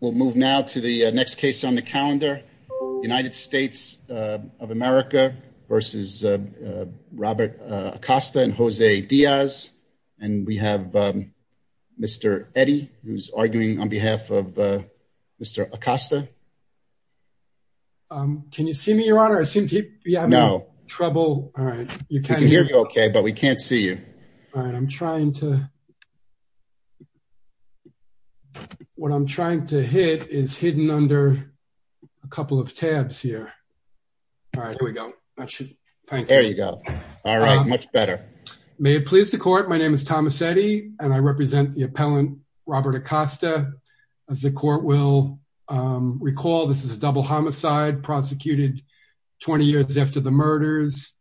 We'll move now to the next case on the calendar. United States of America v. Robert Acosta and Jose Diaz. And we have Mr. Eddy, who's arguing on behalf of Mr. Acosta. Can you see me, Your Honor? I seem to be having trouble. All right, you can hear me okay, but we can't see you. All right, I'm trying to... What I'm trying to hit is hidden under a couple of tabs here. All right, here we go. There you go. All right, much better. May it please the Court, my name is Thomas Eddy, and I represent the appellant Robert Acosta. As the Court will recall, this is a double homicide prosecuted 20 years after the murders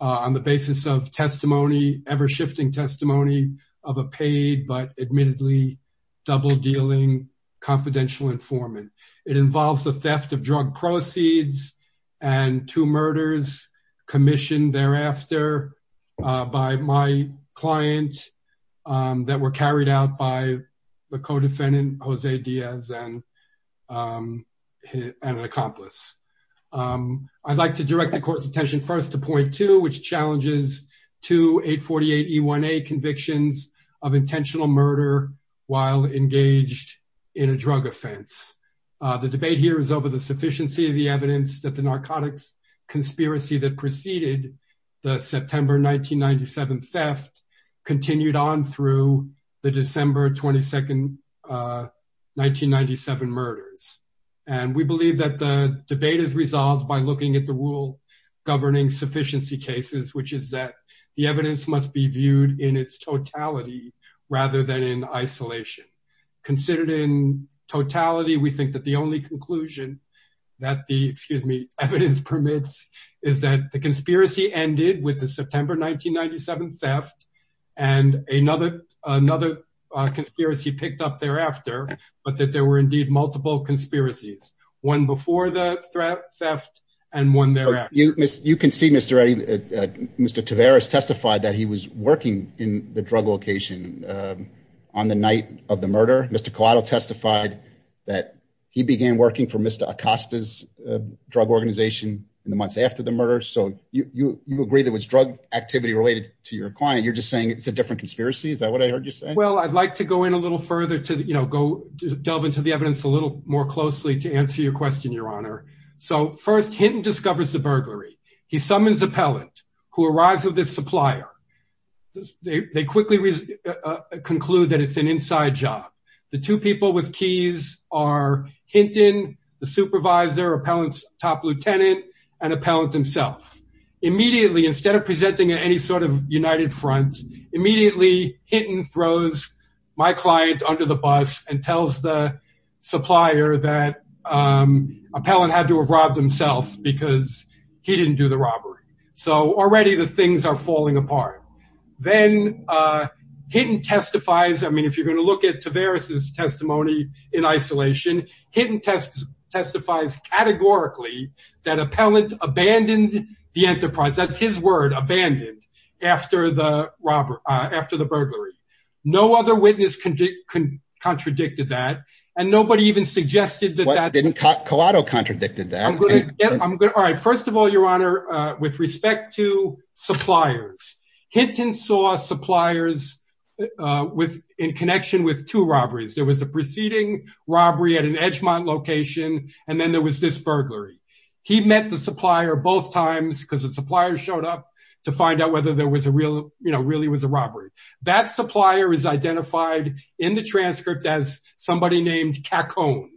on the basis of testimony, ever-shifting testimony of a paid but admittedly double-dealing confidential informant. It involves the theft of drug proceeds and two murders commissioned thereafter by my client that were carried out by the co-defendant, Jose Diaz, and an accomplice. I'd like to direct the Court's attention first to point two, which challenges two 848E1A convictions of intentional murder while engaged in a drug offense. The debate here is over the sufficiency of the evidence that the narcotics conspiracy that preceded the September 1997 theft continued on through the December 22, 1997 murders. And we believe that the debate is resolved by looking at the rule governing sufficiency cases, which is that the evidence must be viewed in its totality rather than in isolation. Considered in totality, we think that the only conclusion that the, excuse me, evidence permits is that the conspiracy ended with the September 1997 theft and another conspiracy picked up thereafter, but that there were indeed multiple conspiracies, one before the theft and one thereafter. You can see, Mr. Eddie, Mr. Tavares testified that he was working in the drug location on the night of the murder. Mr. Collado testified that he began working for Mr. Acosta's drug organization in the months after the murder. So you agree that was drug activity related to your client. You're just saying it's a different conspiracy. Is that what I heard you say? Well, I'd like to go in a little further to, you know, go delve into the evidence a little more closely to answer your question, your honor. So first Hinton discovers the burglary. He summons appellant who arrives with this supplier. They quickly conclude that it's an inside job. The two people with keys are Hinton, the supervisor, appellant's top lieutenant, and appellant himself. Immediately, instead of presenting at any sort of united front, immediately Hinton throws my client under the bus and tells the supplier that appellant had to have robbed himself because he didn't do the robbery. So already the things are falling apart. Then Hinton testifies. I mean, if you're going to look at testifies categorically that appellant abandoned the enterprise, that's his word, abandoned after the robbery, after the burglary. No other witness contradicted that. And nobody even suggested that that didn't. Collado contradicted that. All right. First of all, your honor, with respect to suppliers, Hinton saw suppliers in connection with two robberies. There was a preceding robbery at an Edgmont location, and then there was this burglary. He met the supplier both times because the supplier showed up to find out whether there was a real, you know, really was a robbery. That supplier is identified in the transcript as somebody named Cacone.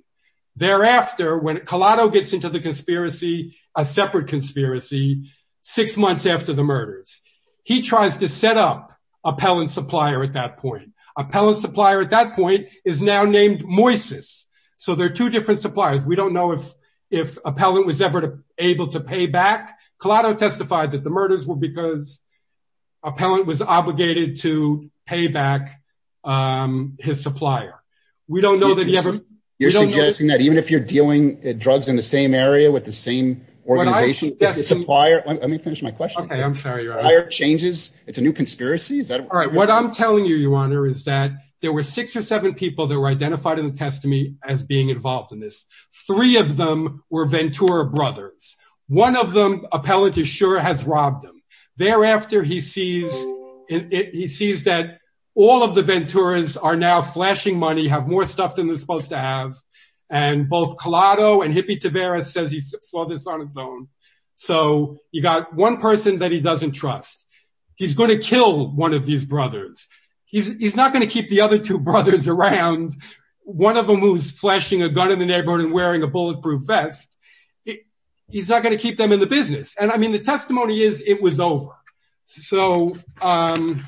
Thereafter, when Collado gets into the conspiracy, a separate conspiracy, six months after the murders, he tries to set up appellant supplier at that point. Appellant is now named Moises. So there are two different suppliers. We don't know if if appellant was ever able to pay back. Collado testified that the murders were because appellant was obligated to pay back his supplier. We don't know that he ever. You're suggesting that even if you're dealing drugs in the same area with the same organization, the supplier. Let me finish my question. I'm sorry, your honor. Changes. It's a new conspiracy. All right. What I'm telling you, your honor, is that there were six or seven people that were identified in the testimony as being involved in this. Three of them were Ventura brothers. One of them, appellant is sure, has robbed them. Thereafter, he sees that all of the Venturas are now flashing money, have more stuff than they're supposed to have. And both Collado and Hippie Tavares says he saw this on its own. So you got one person that he doesn't trust. He's going to kill one of these brothers. He's not going to keep the other two brothers around. One of them was flashing a gun in the neighborhood and wearing a bulletproof vest. He's not going to keep them in the business. And I mean, the testimony is it was over. So I'm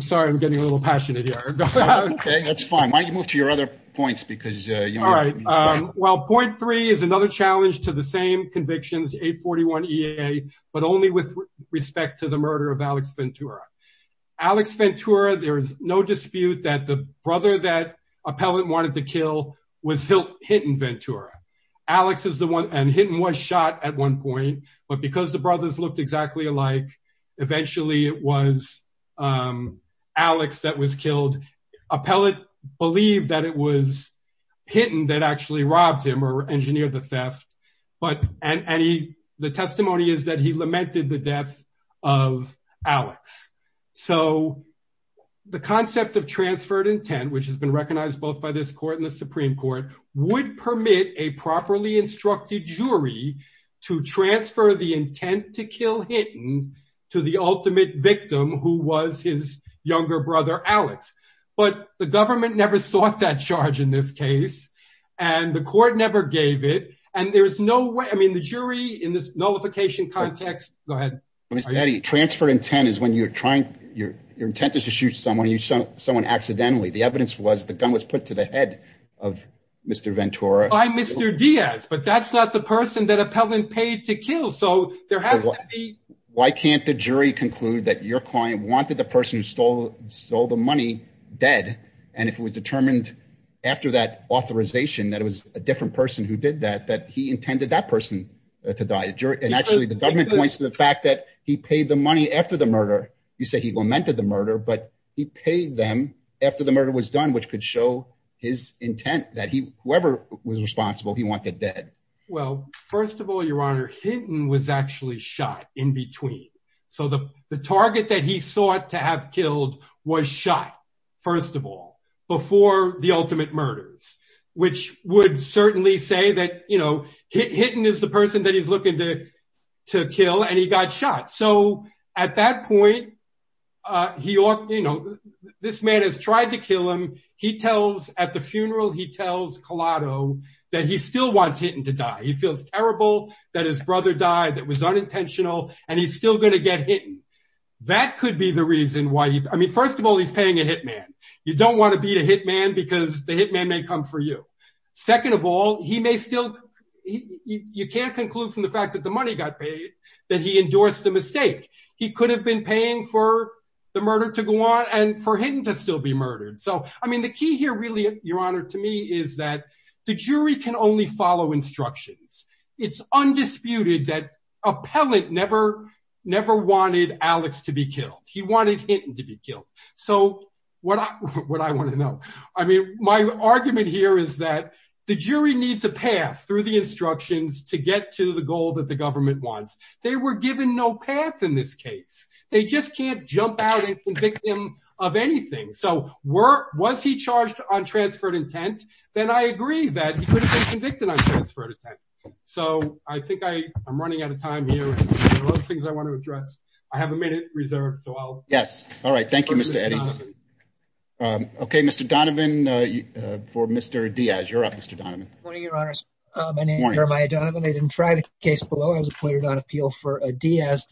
sorry, I'm getting a little passionate here. OK, that's fine. Why don't you move to your other points? Because, you know. All right. Well, point three is another challenge to the same convictions, 841 EA, but only with respect to the murder of Alex Ventura. Alex Ventura, there is no dispute that the brother that appellant wanted to kill was Hinton Ventura. Alex is the one, and Hinton was shot at one point. But because the brothers looked exactly alike, eventually it was Alex that was killed. Appellant believed that it was Hinton that actually robbed him or engineered the theft. But the testimony is that he lamented the death of Alex. So the concept of transferred intent, which has been recognized both by this court and the Supreme Court, would permit a properly instructed jury to transfer the intent to kill Hinton to the ultimate victim, who was his younger brother Alex. But the government never sought that charge in this case, and the court never gave it. And there is no way, I mean, the jury in this nullification context, go ahead. Mr. Eddie, transferred intent is when you're trying, your intent is to shoot someone, someone accidentally. The evidence was the gun was put to the head of Mr. Ventura. By Mr. Diaz, but that's not the person that appellant paid to kill. So there has to be. Why can't the jury conclude that your client wanted the person who stole the money dead? And if it was determined after that authorization that it was a different person who did that, that he intended that person to die. And actually the government points to the fact that he paid the money after the murder. You say he lamented the murder, but he paid them after the murder was done, which could show his intent that he, whoever was responsible, he wanted dead. Well, first of all, your honor, Hinton was actually shot in between. So the target that he sought to have killed was shot first of all, before the ultimate murders, which would certainly say that, you know, Hinton is the person that he's looking to kill and he got shot. So at that point, he ought, you know, this man has tried to kill him. He tells at the funeral, he tells Collado that he still wants Hinton to die. He feels terrible that his brother died. That was the reason why he, I mean, first of all, he's paying a hitman. You don't want to beat a hitman because the hitman may come for you. Second of all, he may still, you can't conclude from the fact that the money got paid, that he endorsed the mistake. He could have been paying for the murder to go on and for Hinton to still be murdered. So, I mean, the key here really, your honor, to me is that the jury can only follow instructions. It's undisputed that never wanted Alex to be killed. He wanted Hinton to be killed. So what I want to know, I mean, my argument here is that the jury needs a path through the instructions to get to the goal that the government wants. They were given no path in this case. They just can't jump out and convict him of anything. So was he charged on transferred intent? Then I agree that he could have been I have a minute reserved. So I'll, yes. All right. Thank you, Mr. Eddie. Okay. Mr. Donovan for Mr. Diaz. You're up, Mr. Donovan. Morning, your honor. My name is Jeremiah Donovan. I didn't try the case below. I was appointed on appeal for Diaz.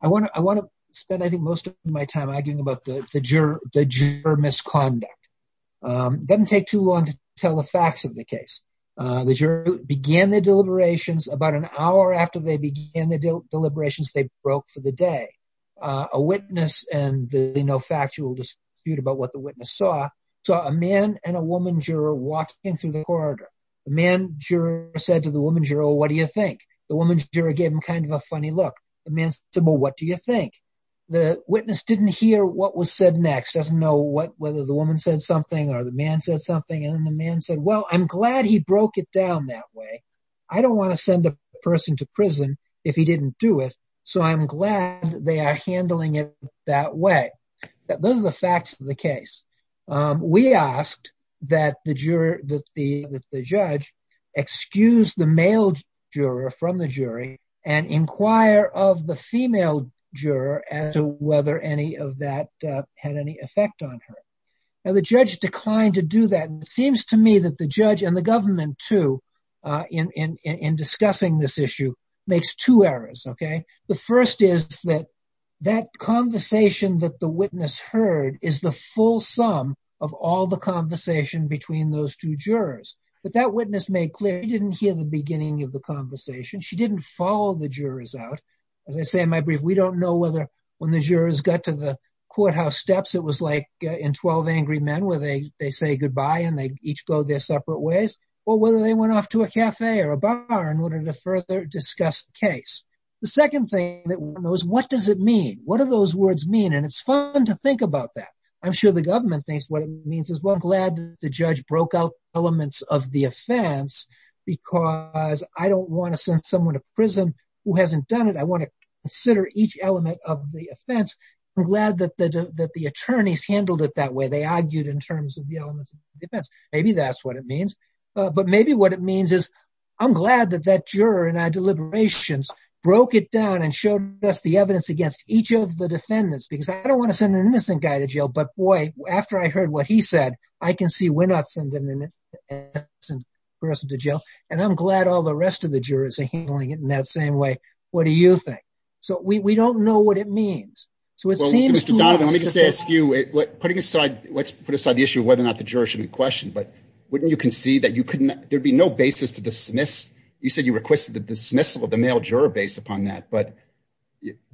I want to spend, I think, most of my time arguing about the juror misconduct. Doesn't take too long to tell the facts of the case. The juror began the deliberations about an for the day. A witness and the no factual dispute about what the witness saw. So a man and a woman juror walked in through the corridor. The man juror said to the woman juror, what do you think? The woman juror gave him kind of a funny look. The man said, well, what do you think? The witness didn't hear what was said next. Doesn't know whether the woman said something or the man said something. And then the man said, well, I'm glad he broke it down that way. I don't want to send a person to prison if he didn't do it. So I'm glad they are handling it that way. Those are the facts of the case. We asked that the judge excuse the male juror from the jury and inquire of the female juror as to whether any of that had any effect on her. And the judge declined to do that. And it seems to me that the judge and the government too, in discussing this issue, makes two errors. The first is that that conversation that the witness heard is the full sum of all the conversation between those two jurors. But that witness made clear he didn't hear the beginning of the conversation. She didn't follow the jurors out. As I say in my brief, we don't know whether when the jurors got to the courthouse it was like in 12 Angry Men where they say goodbye and they each go their separate ways, or whether they went off to a cafe or a bar in order to further discuss the case. The second thing that we want to know is what does it mean? What do those words mean? And it's fun to think about that. I'm sure the government thinks what it means as well. I'm glad the judge broke out elements of the offense because I don't want to send someone to prison who hasn't done it. I want to consider each element of the offense. I'm glad that the attorneys handled it that way. They argued in terms of the elements of the defense. Maybe that's what it means. But maybe what it means is I'm glad that that juror and our deliberations broke it down and showed us the evidence against each of the defendants because I don't want to send an innocent guy to jail. But boy, after I heard what he said, I can see we're not sending an innocent person to jail. And I'm glad all the rest of the jurors are handling it in that same way. What do you think? We don't know what it means. Well, Mr. Donovan, let me just ask you, let's put aside the issue of whether or not the juror should be questioned, but wouldn't you concede that there'd be no basis to dismiss? You said you requested the dismissal of the male juror based upon that, but you're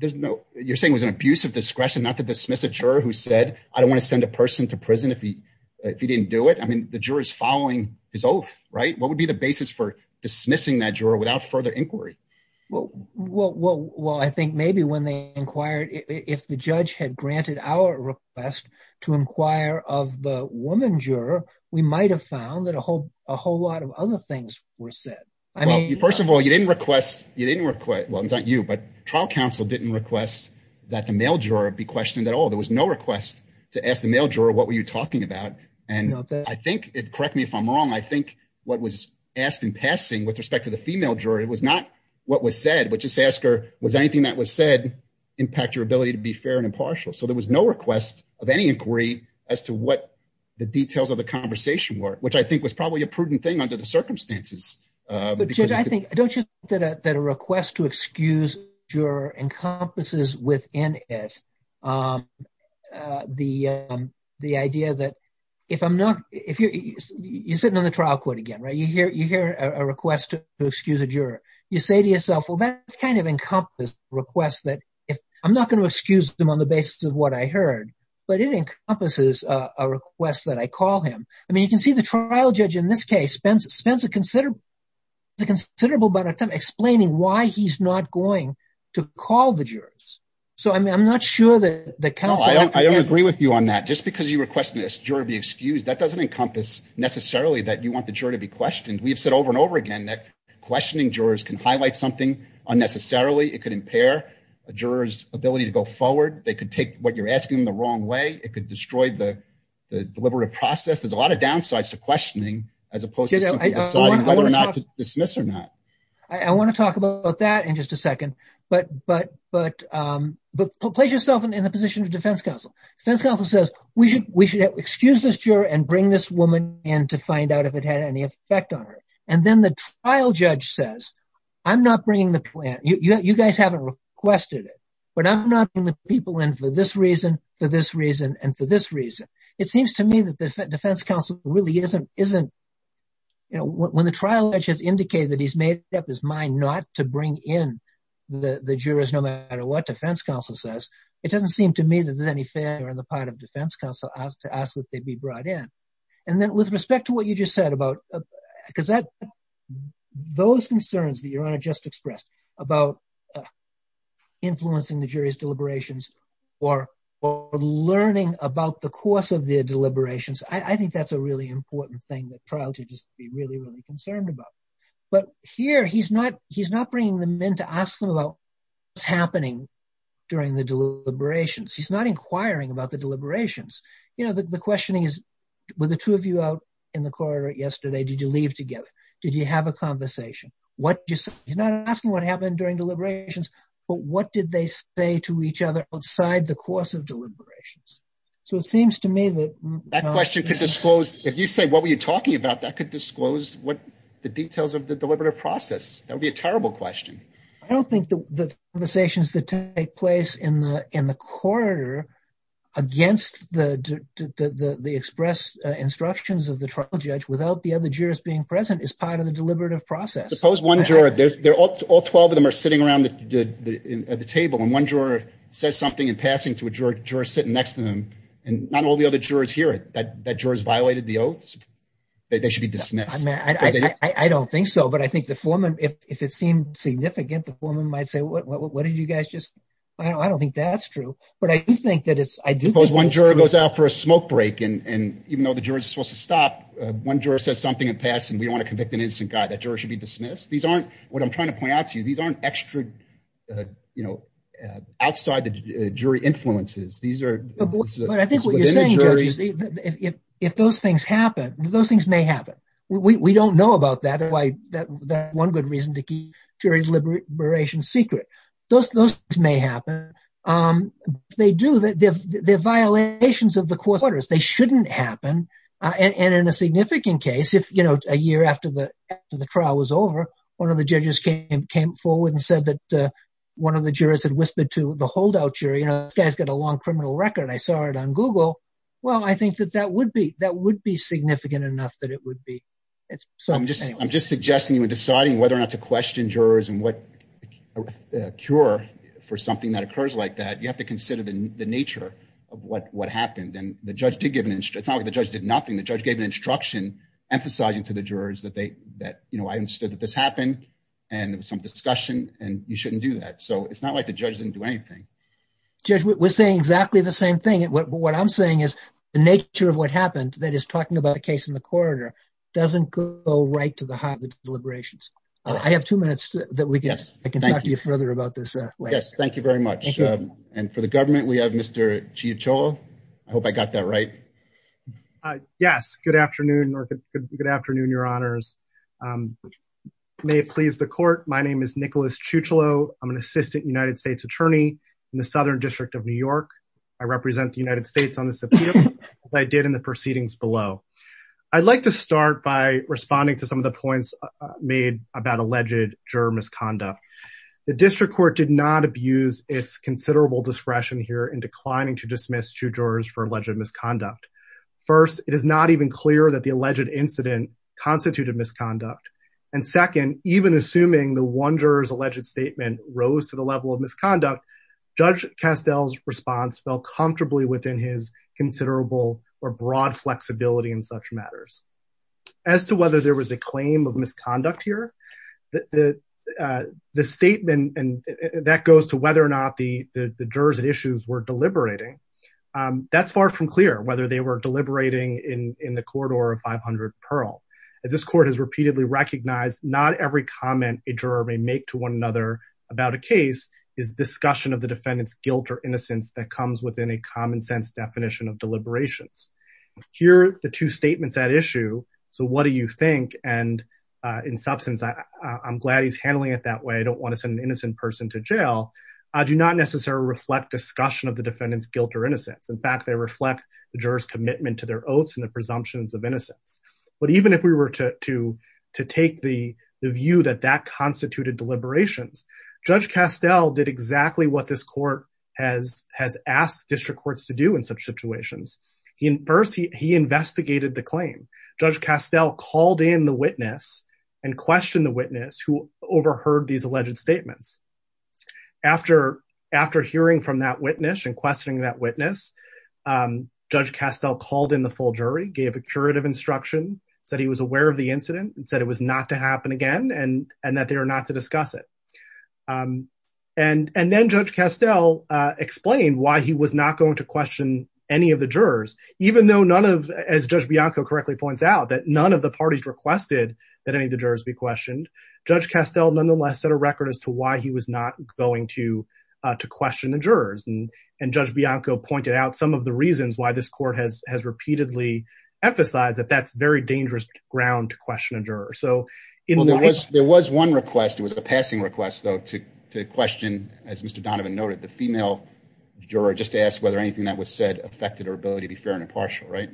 saying it was an abuse of discretion not to dismiss a juror who said, I don't want to send a person to prison if he didn't do it. I mean, the juror's following his oath, right? What would be the basis for dismissing that juror without further inquiry? Well, I think maybe when they inquired, if the judge had granted our request to inquire of the woman juror, we might've found that a whole lot of other things were said. First of all, you didn't request, well, it's not you, but trial counsel didn't request that the male juror be questioned at all. There was no request to ask the male juror, what were you talking about? And I think, correct me if I'm wrong, I think what was asked in passing with respect to the female juror, it was not what was said, but just ask her, was anything that was said impact your ability to be fair and impartial? So there was no request of any inquiry as to what the details of the conversation were, which I think was probably a prudent thing under the circumstances. But Judge, I think, don't you think that a request to excuse a juror encompasses within it the idea that if I'm not, if you're sitting on the trial court again, right? You hear a request to excuse a juror, you say to yourself, well, that kind of encompasses requests that if I'm not going to excuse them on the basis of what I heard, but it encompasses a request that I call him. I mean, you can see the trial judge in this case spends a considerable amount of time explaining why he's not going to call the jurors. So I'm not sure that counsel- I don't agree with you on that. Just because you requested a juror be excused, that doesn't encompass necessarily that you want the juror to be questioned. We've said over and over again that questioning jurors can highlight something unnecessarily. It could impair a juror's ability to go forward. They could take what you're asking them the wrong way. It could destroy the deliberative process. There's a lot of downsides to questioning as opposed to deciding whether or not to dismiss or not. I want to talk about that in just a second, but place yourself in the position of defense counsel. Defense counsel says, we should excuse this juror and bring this woman in to find out if it had any effect on her. And then the trial judge says, I'm not bringing the plan. You guys haven't requested it, but I'm not bringing the people in for this reason, for this defense counsel. When the trial judge has indicated that he's made up his mind not to bring in the jurors, no matter what defense counsel says, it doesn't seem to me that there's any failure on the part of defense counsel to ask that they be brought in. And then with respect to what you just said about- because those concerns that your honor just expressed about influencing the jury's deliberations or learning about the course of their deliberations, I think that's a really important thing that trial judges should be really, really concerned about. But here, he's not bringing them in to ask them about what's happening during the deliberations. He's not inquiring about the deliberations. The questioning is, were the two of you out in the corridor yesterday? Did you leave together? Did you have a conversation? What did you say? He's not asking what happened during deliberations, but what did they say to each other outside the course of deliberations? So it seems to me that- That question could disclose- if you say, what were you talking about? That could disclose the details of the deliberative process. That would be a terrible question. I don't think the conversations that take place in the corridor against the express instructions of the trial judge without the other jurors being present is part of the deliberative process. Suppose one juror- all 12 of them are sitting around the table, and one juror says something in passing to a juror sitting next to them, and not all the other jurors hear it. That jurors violated the oaths? They should be dismissed. I mean, I don't think so, but I think the foreman, if it seemed significant, the foreman might say, what did you guys just- I don't think that's true. But I do think that it's- Suppose one juror goes out for a smoke break, and even though the jurors are supposed to stop, one juror says something in passing, we don't want to convict an innocent guy. That juror should be dismissed. These aren't- what I'm trying to point out to you, these aren't extra, you know, outside the jury influences. These are- But I think what you're saying, Judge, if those things happen, those things may happen. We don't know about that. That's one good reason to keep jury deliberations secret. Those things may happen. They do, they're violations of the case. If, you know, a year after the trial was over, one of the judges came forward and said that one of the jurors had whispered to the holdout jury, you know, this guy's got a long criminal record. I saw it on Google. Well, I think that that would be significant enough that it would be. I'm just suggesting, you know, deciding whether or not to question jurors and what cure for something that occurs like that. You have to consider the nature of what happened. The judge did give an- it's not like the judge did nothing. The judge gave an instruction emphasizing to the jurors that they- that, you know, I understood that this happened and there was some discussion and you shouldn't do that. So it's not like the judge didn't do anything. Judge, we're saying exactly the same thing. What I'm saying is the nature of what happened that is talking about the case in the corridor doesn't go right to the heart of the deliberations. I have two minutes that we can- Yes, thank you. I can talk to you further about this later. Yes, thank you very much. And for the government, we have Mr. Ciacciolo. I hope I got that right. Yes, good afternoon or good afternoon, your honors. May it please the court. My name is Nicholas Ciacciolo. I'm an assistant United States attorney in the Southern District of New York. I represent the United States on the subpoena as I did in the proceedings below. I'd like to start by responding to some of the points made about alleged juror misconduct. The district court did not abuse its considerable discretion here in declining to dismiss two jurors for alleged misconduct. First, it is not even clear that the alleged incident constituted misconduct. And second, even assuming the one juror's alleged statement rose to the level of misconduct, Judge Castell's response fell comfortably within his considerable or broad statement. And that goes to whether or not the jurors at issues were deliberating. That's far from clear, whether they were deliberating in the corridor of 500 Pearl. As this court has repeatedly recognized, not every comment a juror may make to one another about a case is discussion of the defendant's guilt or innocence that comes within a common sense definition of deliberations. Here, the two statements at issue, so what do you think? And in substance, I'm glad he's handling it that way. I don't want to send an innocent person to jail. I do not necessarily reflect discussion of the defendant's guilt or innocence. In fact, they reflect the juror's commitment to their oaths and the presumptions of innocence. But even if we were to take the view that that constituted deliberations, Judge Castell did exactly what this court has asked district courts to do in such situations. First, he investigated the claim. Judge Castell called in the witness and questioned the witness who overheard these alleged statements. After hearing from that witness and questioning that witness, Judge Castell called in the full jury, gave a curative instruction, said he was aware of the incident and said it was not to happen again and that they are not to discuss it. And then Judge Castell explained why he was not going to question any of the jurors, even though none of, as Judge Bianco correctly points out, that none of the parties requested that any of the jurors be questioned. Judge Castell, nonetheless, set a record as to why he was not going to question the jurors. And Judge Bianco pointed out some of the reasons why this court has repeatedly emphasized that that's very dangerous ground to question a juror. There was one request. It was a passing request, though, to question, as Mr. Donovan noted, the female juror, just to ask whether anything that was said affected her ability to be fair and impartial, right?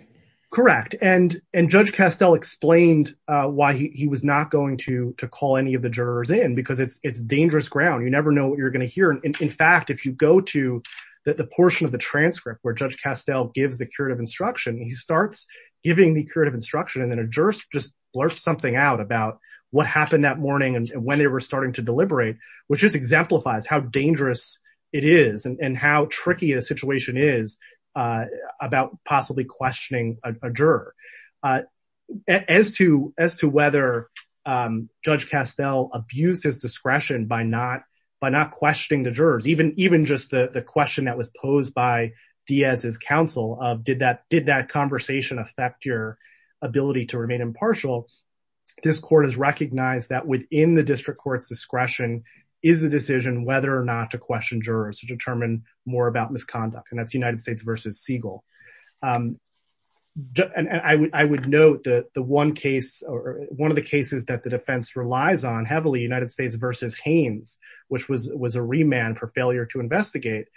Correct. And Judge Castell explained why he was not going to call any of the jurors in because it's dangerous ground. You never know what you're going to hear. In fact, if you go to the portion of the transcript where Judge Castell gives the curative instruction, he starts giving the curative instruction and then a jurist just blurts something out about what happened that morning and when they were starting to deliberate, which just exemplifies how dangerous it is and how tricky a situation is about possibly questioning a juror. As to whether Judge Castell abused his discretion by not questioning the jurors, even just the question that was posed by Diaz's counsel of did that conversation affect your ability to remain impartial, this court has recognized that within the district court's discretion is the decision whether or not to question jurors to determine more about misconduct, and that's United States versus Siegel. I would note that one of the cases that the defense relies on heavily, United States versus Haines, which was a remand for failure to investigate,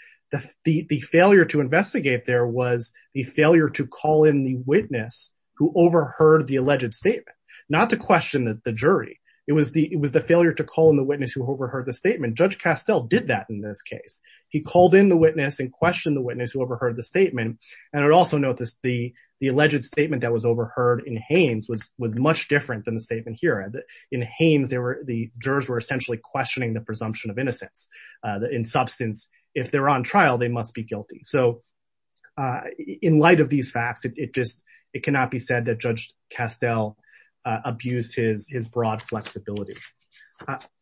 the failure to investigate there was the failure to call in the witness who overheard the alleged statement, not to question the jury. It was the failure to call in the witness who overheard the statement. Judge Castell did that in this case. He called in the witness and questioned the witness who overheard the statement, and I'd also note this, the alleged statement that was overheard in Haines was much different than the statement here. In Haines, the jurors were essentially questioning the presumption of innocence. In substance, if they're on trial, they must be guilty. So in light of these facts, it cannot be said that Judge Castell abused his broad flexibility.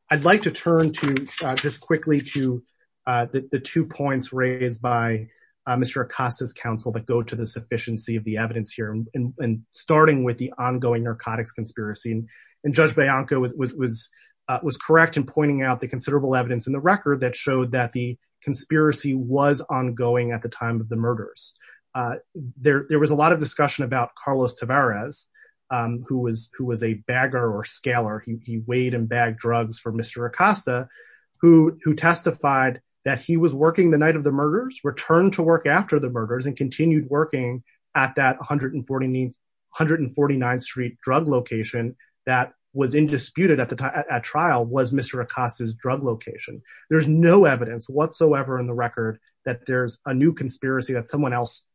I'd like to turn to, just quickly, to the two points raised by Mr. Acosta's counsel that go to the sufficiency of the evidence here, and starting with the ongoing narcotics conspiracy, and Judge Bianco was correct in pointing out the considerable evidence in the record that showed that the Carlos Tavares, who was a bagger or scaler, he weighed and bagged drugs for Mr. Acosta, who testified that he was working the night of the murders, returned to work after the murders, and continued working at that 149th Street drug location that was indisputed at trial was Mr. Acosta's drug location. There's no evidence whatsoever in the record that there's a new conspiracy that someone else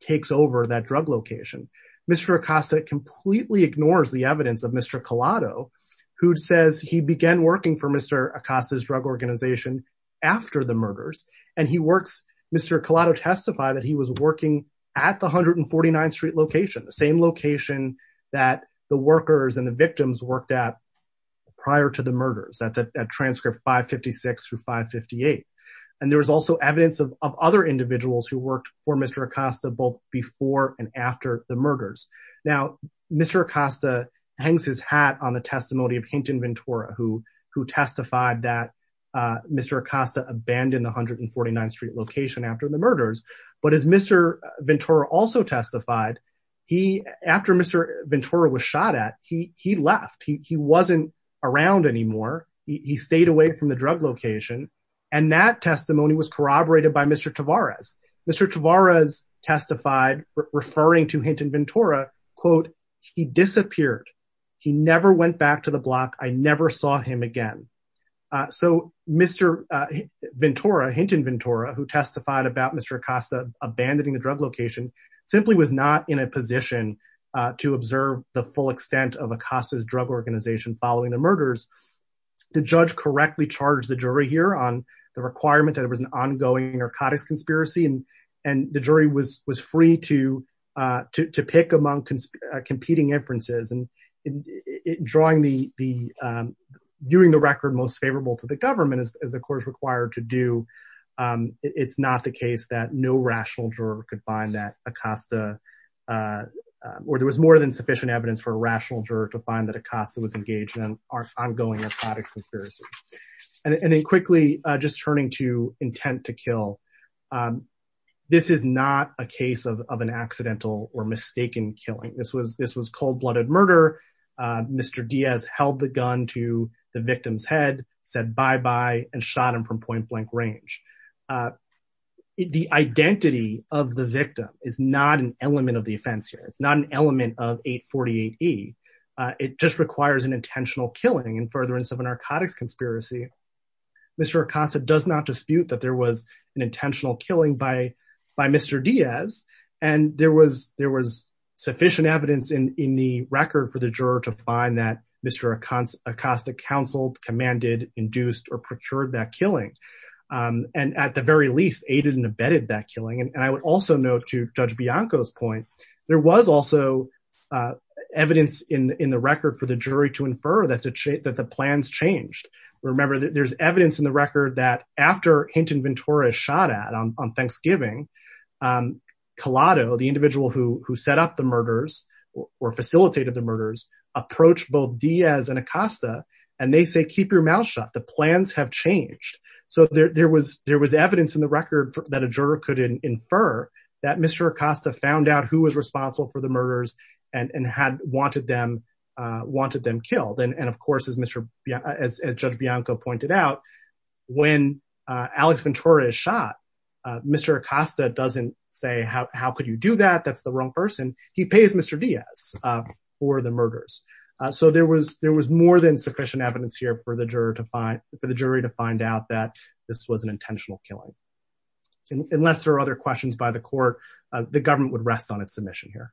takes over that drug location. Mr. Acosta completely ignores the evidence of Mr. Collado, who says he began working for Mr. Acosta's drug organization after the murders, and Mr. Collado testified that he was working at the 149th Street location, the same location that the workers and the victims worked at prior to the murders, at transcript 556 through 558, and there was also evidence of other individuals who worked for Mr. Acosta both before and after the murders. Now, Mr. Acosta hangs his hat on the testimony of Hinton Ventura, who testified that Mr. Acosta abandoned the 149th Street location after the murders, but as Mr. Ventura also testified, after Mr. Ventura was shot at, he left. He wasn't around anymore. He stayed away from the drug location, and that testimony was corroborated by Mr. Tavares. Mr. Tavares testified, referring to Hinton Ventura, quote, he disappeared. He never went back to the block. I never saw him again. So Mr. Ventura, Hinton Ventura, who testified about Mr. Acosta abandoning the drug location, simply was not in a position to observe the full extent of Acosta's drug organization following the murders. The judge correctly charged the jury here on the requirement that it was an ongoing narcotics conspiracy, and the jury was free to pick among competing inferences, and drawing the, doing the record most favorable to the government as the court is required to do. It's not the case that no rational juror could find that Acosta, or there was more than sufficient evidence for a rational juror to find that Acosta was engaged in our ongoing narcotics conspiracy. And then quickly, just turning to intent to kill, this is not a case of an accidental or mistaken killing. This was cold-blooded murder. Mr. Diaz held the gun to the victim's head, said bye-bye, and shot him from point-blank range. The identity of the victim is not an element of the offense here. It's not an element of 848E. It just requires an intentional killing in furtherance of a narcotics conspiracy. Mr. Acosta does not dispute that there was an intentional killing by Mr. Diaz, and there was sufficient evidence in the record for the juror to find that Mr. Acosta counseled, commanded, induced, or procured that killing, and at the very least, aided and abetted that killing. And I would also note to Judge Bianco's point, there was also evidence in the record for the jury to infer that the plans changed. Remember, there's evidence in the record that after Hinton Ventura is shot at on Thanksgiving, Collado, the individual who set up the murders or facilitated the murders, approached both Diaz and Acosta, and they said, keep your mouth shut. The plans have changed. So there was evidence in the record that a juror could infer that Mr. Acosta found out who was responsible for the murders and had wanted them killed. And of course, as Judge Bianco pointed out, when Alex Ventura is shot, Mr. Acosta doesn't say, how could you do that? That's the wrong person. He pays Mr. Diaz for the murders. So there was more than sufficient evidence here for the jury to find out that this was an intentional killing. Unless there are other questions by the court, the government would rest on its submission here.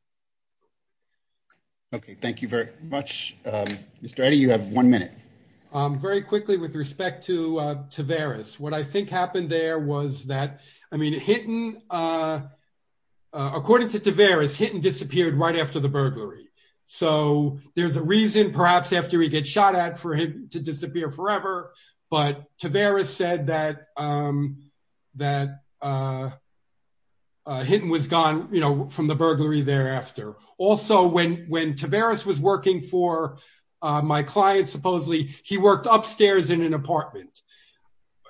Okay, thank you very much. Mr. Eddy, you have one minute. Very quickly with respect to Tavares. What I think happened there was that, I mean, Hinton, according to Tavares, Hinton disappeared right after the burglary. So there's a reason, perhaps after he gets shot at, for him to disappear forever. But Tavares said that Hinton was gone from the burglary thereafter. Also, when Tavares was working for my client, supposedly, he worked upstairs in an apartment.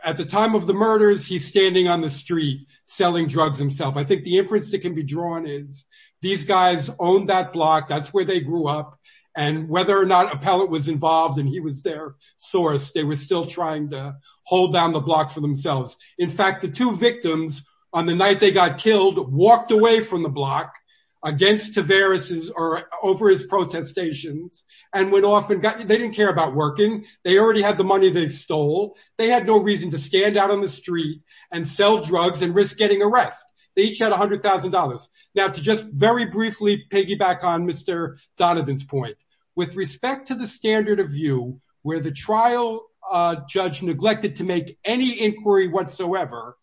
At the time of the murders, he's standing on the street selling drugs himself. I think the inference that can be drawn is, these guys owned that block. That's where they grew up. And whether or not Appellate was involved, and he was their source, they were still trying to hold down the block for themselves. In fact, the two victims, on the night they got killed, walked away from the block against Tavares's, or over his protestations, and went off and got, they didn't care about working. They already had the money they stole. They had no reason to stand out on the street and sell drugs and risk getting arrest. They each had $100,000. Now, to just very briefly piggyback on Mr. Donovan's point, with respect to the standard of view, where the trial judge neglected to make any inquiry whatsoever,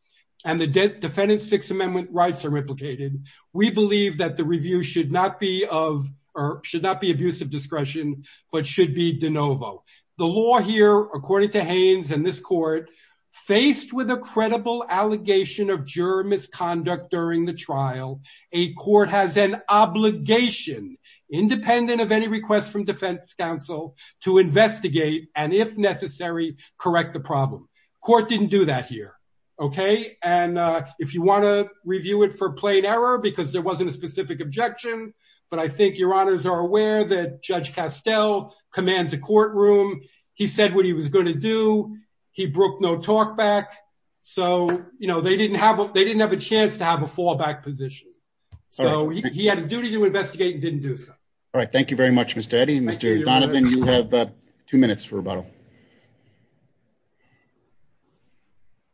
and the defendant's Sixth Amendment rights are replicated, we believe that the review should not be of, or should not be abuse of discretion, but should be de novo. The law here, according to Haynes and this court, faced with a credible allegation of juror misconduct during the trial, a court has an obligation, independent of any request from defense counsel, to investigate and, if necessary, correct the problem. Court didn't do that here, okay? And if you want to But I think your honors are aware that Judge Castell commands a courtroom. He said what he was going to do. He broke no talkback. So, you know, they didn't have, they didn't have a chance to have a fallback position. So he had a duty to investigate and didn't do so. All right, thank you very much, Mr. Eddy. Mr. Donovan, you have two minutes for rebuttal.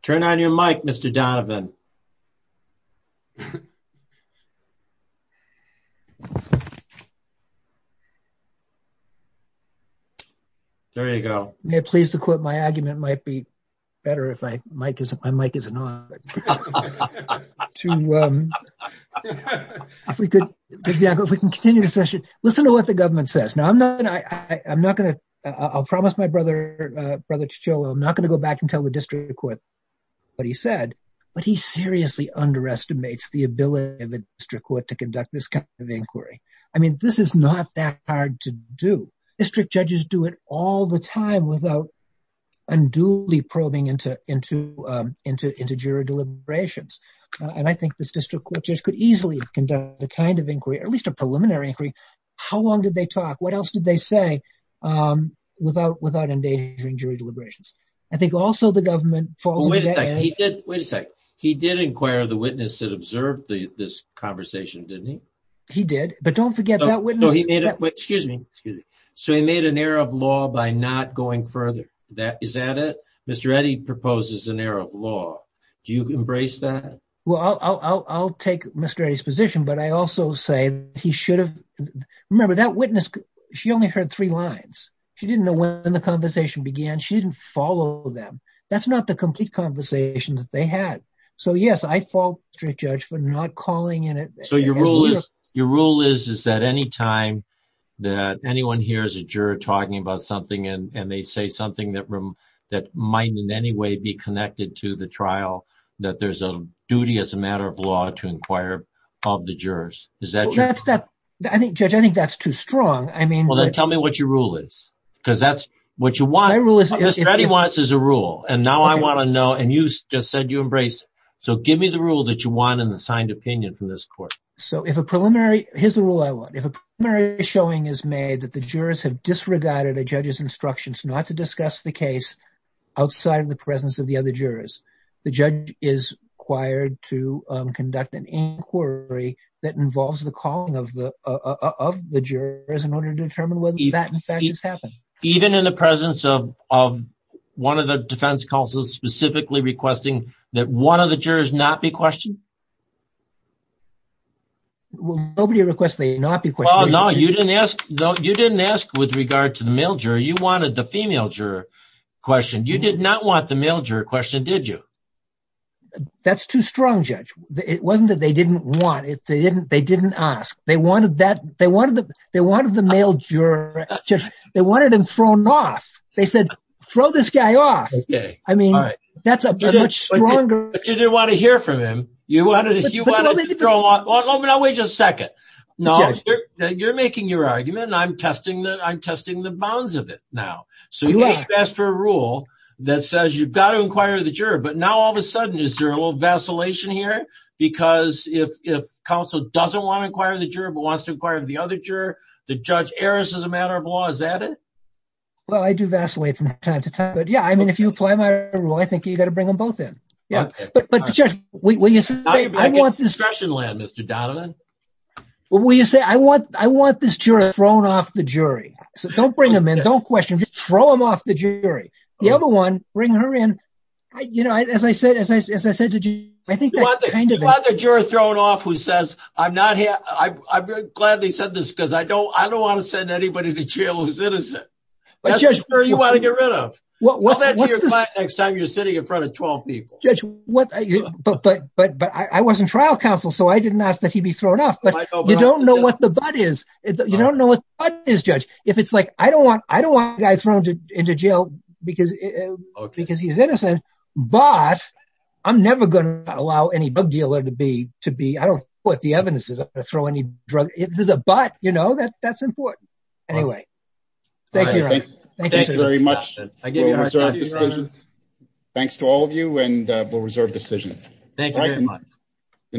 Turn on your mic, Mr. Donovan. There you go. May it please the court, my argument might be better if my mic isn't on. If we could, Judge Bianco, if we can continue the session. Listen to what the government says. Now, I'm not, I'm not going to, I'll promise my brother, Brother Cicciolo, I'm not going to go back and tell the district court what he said, but he seriously underestimates the ability of this kind of inquiry. I mean, this is not that hard to do. District judges do it all the time without unduly probing into, into, into, into jury deliberations. And I think this district court just could easily have conducted the kind of inquiry, at least a preliminary inquiry. How long did they talk? What else did they say without, without endangering jury deliberations? I think also the government falls... Wait a sec, he did, wait a sec, he did inquire the witness that he did, but don't forget that witness. No, he made a quick, excuse me, excuse me. So he made an error of law by not going further. That, is that it? Mr. Eddy proposes an error of law. Do you embrace that? Well, I'll, I'll, I'll take Mr. Eddy's position, but I also say he should have, remember that witness, she only heard three lines. She didn't know when the conversation began. She didn't follow them. That's not the complete conversation that they had. So, yes, I fault the district judge for not calling in it. So your rule is, your rule is, is that any time that anyone hears a juror talking about something and they say something that, that might in any way be connected to the trial, that there's a duty as a matter of law to inquire of the jurors. Is that true? That's that, I think, Judge, I think that's too strong. I mean... Well, then tell me what your rule is, because that's what you want. My rule is... You just said you embrace. So give me the rule that you want in the signed opinion from this court. So if a preliminary, here's the rule I want. If a preliminary showing is made that the jurors have disregarded a judge's instructions not to discuss the case outside of the presence of the other jurors, the judge is required to conduct an inquiry that involves the calling of the, of the jurors in order to determine whether that in fact has happened. Even in the presence of, one of the defense counsels specifically requesting that one of the jurors not be questioned? Nobody requests they not be questioned. Oh, no, you didn't ask, no, you didn't ask with regard to the male juror. You wanted the female juror questioned. You did not want the male juror questioned, did you? That's too strong, Judge. It wasn't that they didn't want it. They didn't, they didn't ask. They wanted that, they wanted the, they wanted the male juror, they wanted him thrown off. They said, throw this guy off. Okay. I mean, that's a much stronger. But you didn't want to hear from him. You wanted, you wanted to throw off. Now wait just a second. Now you're, you're making your argument and I'm testing the, I'm testing the bounds of it now. So you asked for a rule that says you've got to inquire the juror, but now all of a sudden, is there a little vacillation here? Because if, if counsel doesn't want to inquire the juror, but wants to inquire the other juror, the judge errs as a matter of law. Is that it? Well, I do vacillate from time to time, but yeah, I mean, if you apply my rule, I think you got to bring them both in. Yeah. But, but Judge, will you say, I want this, will you say, I want, I want this juror thrown off the jury. So don't bring them in, don't question, just throw them off the jury. The other one, bring her in. I, you know, as I said, as I said to you, I think that kind of thing. You want the juror thrown off who says, I'm not here, I'm glad they said this because I don't, I don't want to send anybody to jail who's innocent. That's the juror you want to get rid of. Well, what's the next time you're sitting in front of 12 people? Judge, what, but, but, but I wasn't trial counsel, so I didn't ask that he be thrown off, but you don't know what the but is. You don't know what the but is, Judge. If it's like, I don't want, I don't want a guy thrown into jail because, because he's innocent, but I'm never going to allow any bug dealer to be, to be, I don't know what the evidence is, I'm not going to throw any drug, if there's a but, you know, that, that's important. Anyway, thank you. Thank you very much. Thanks to all of you and we'll reserve decision. Thank you very much. The next.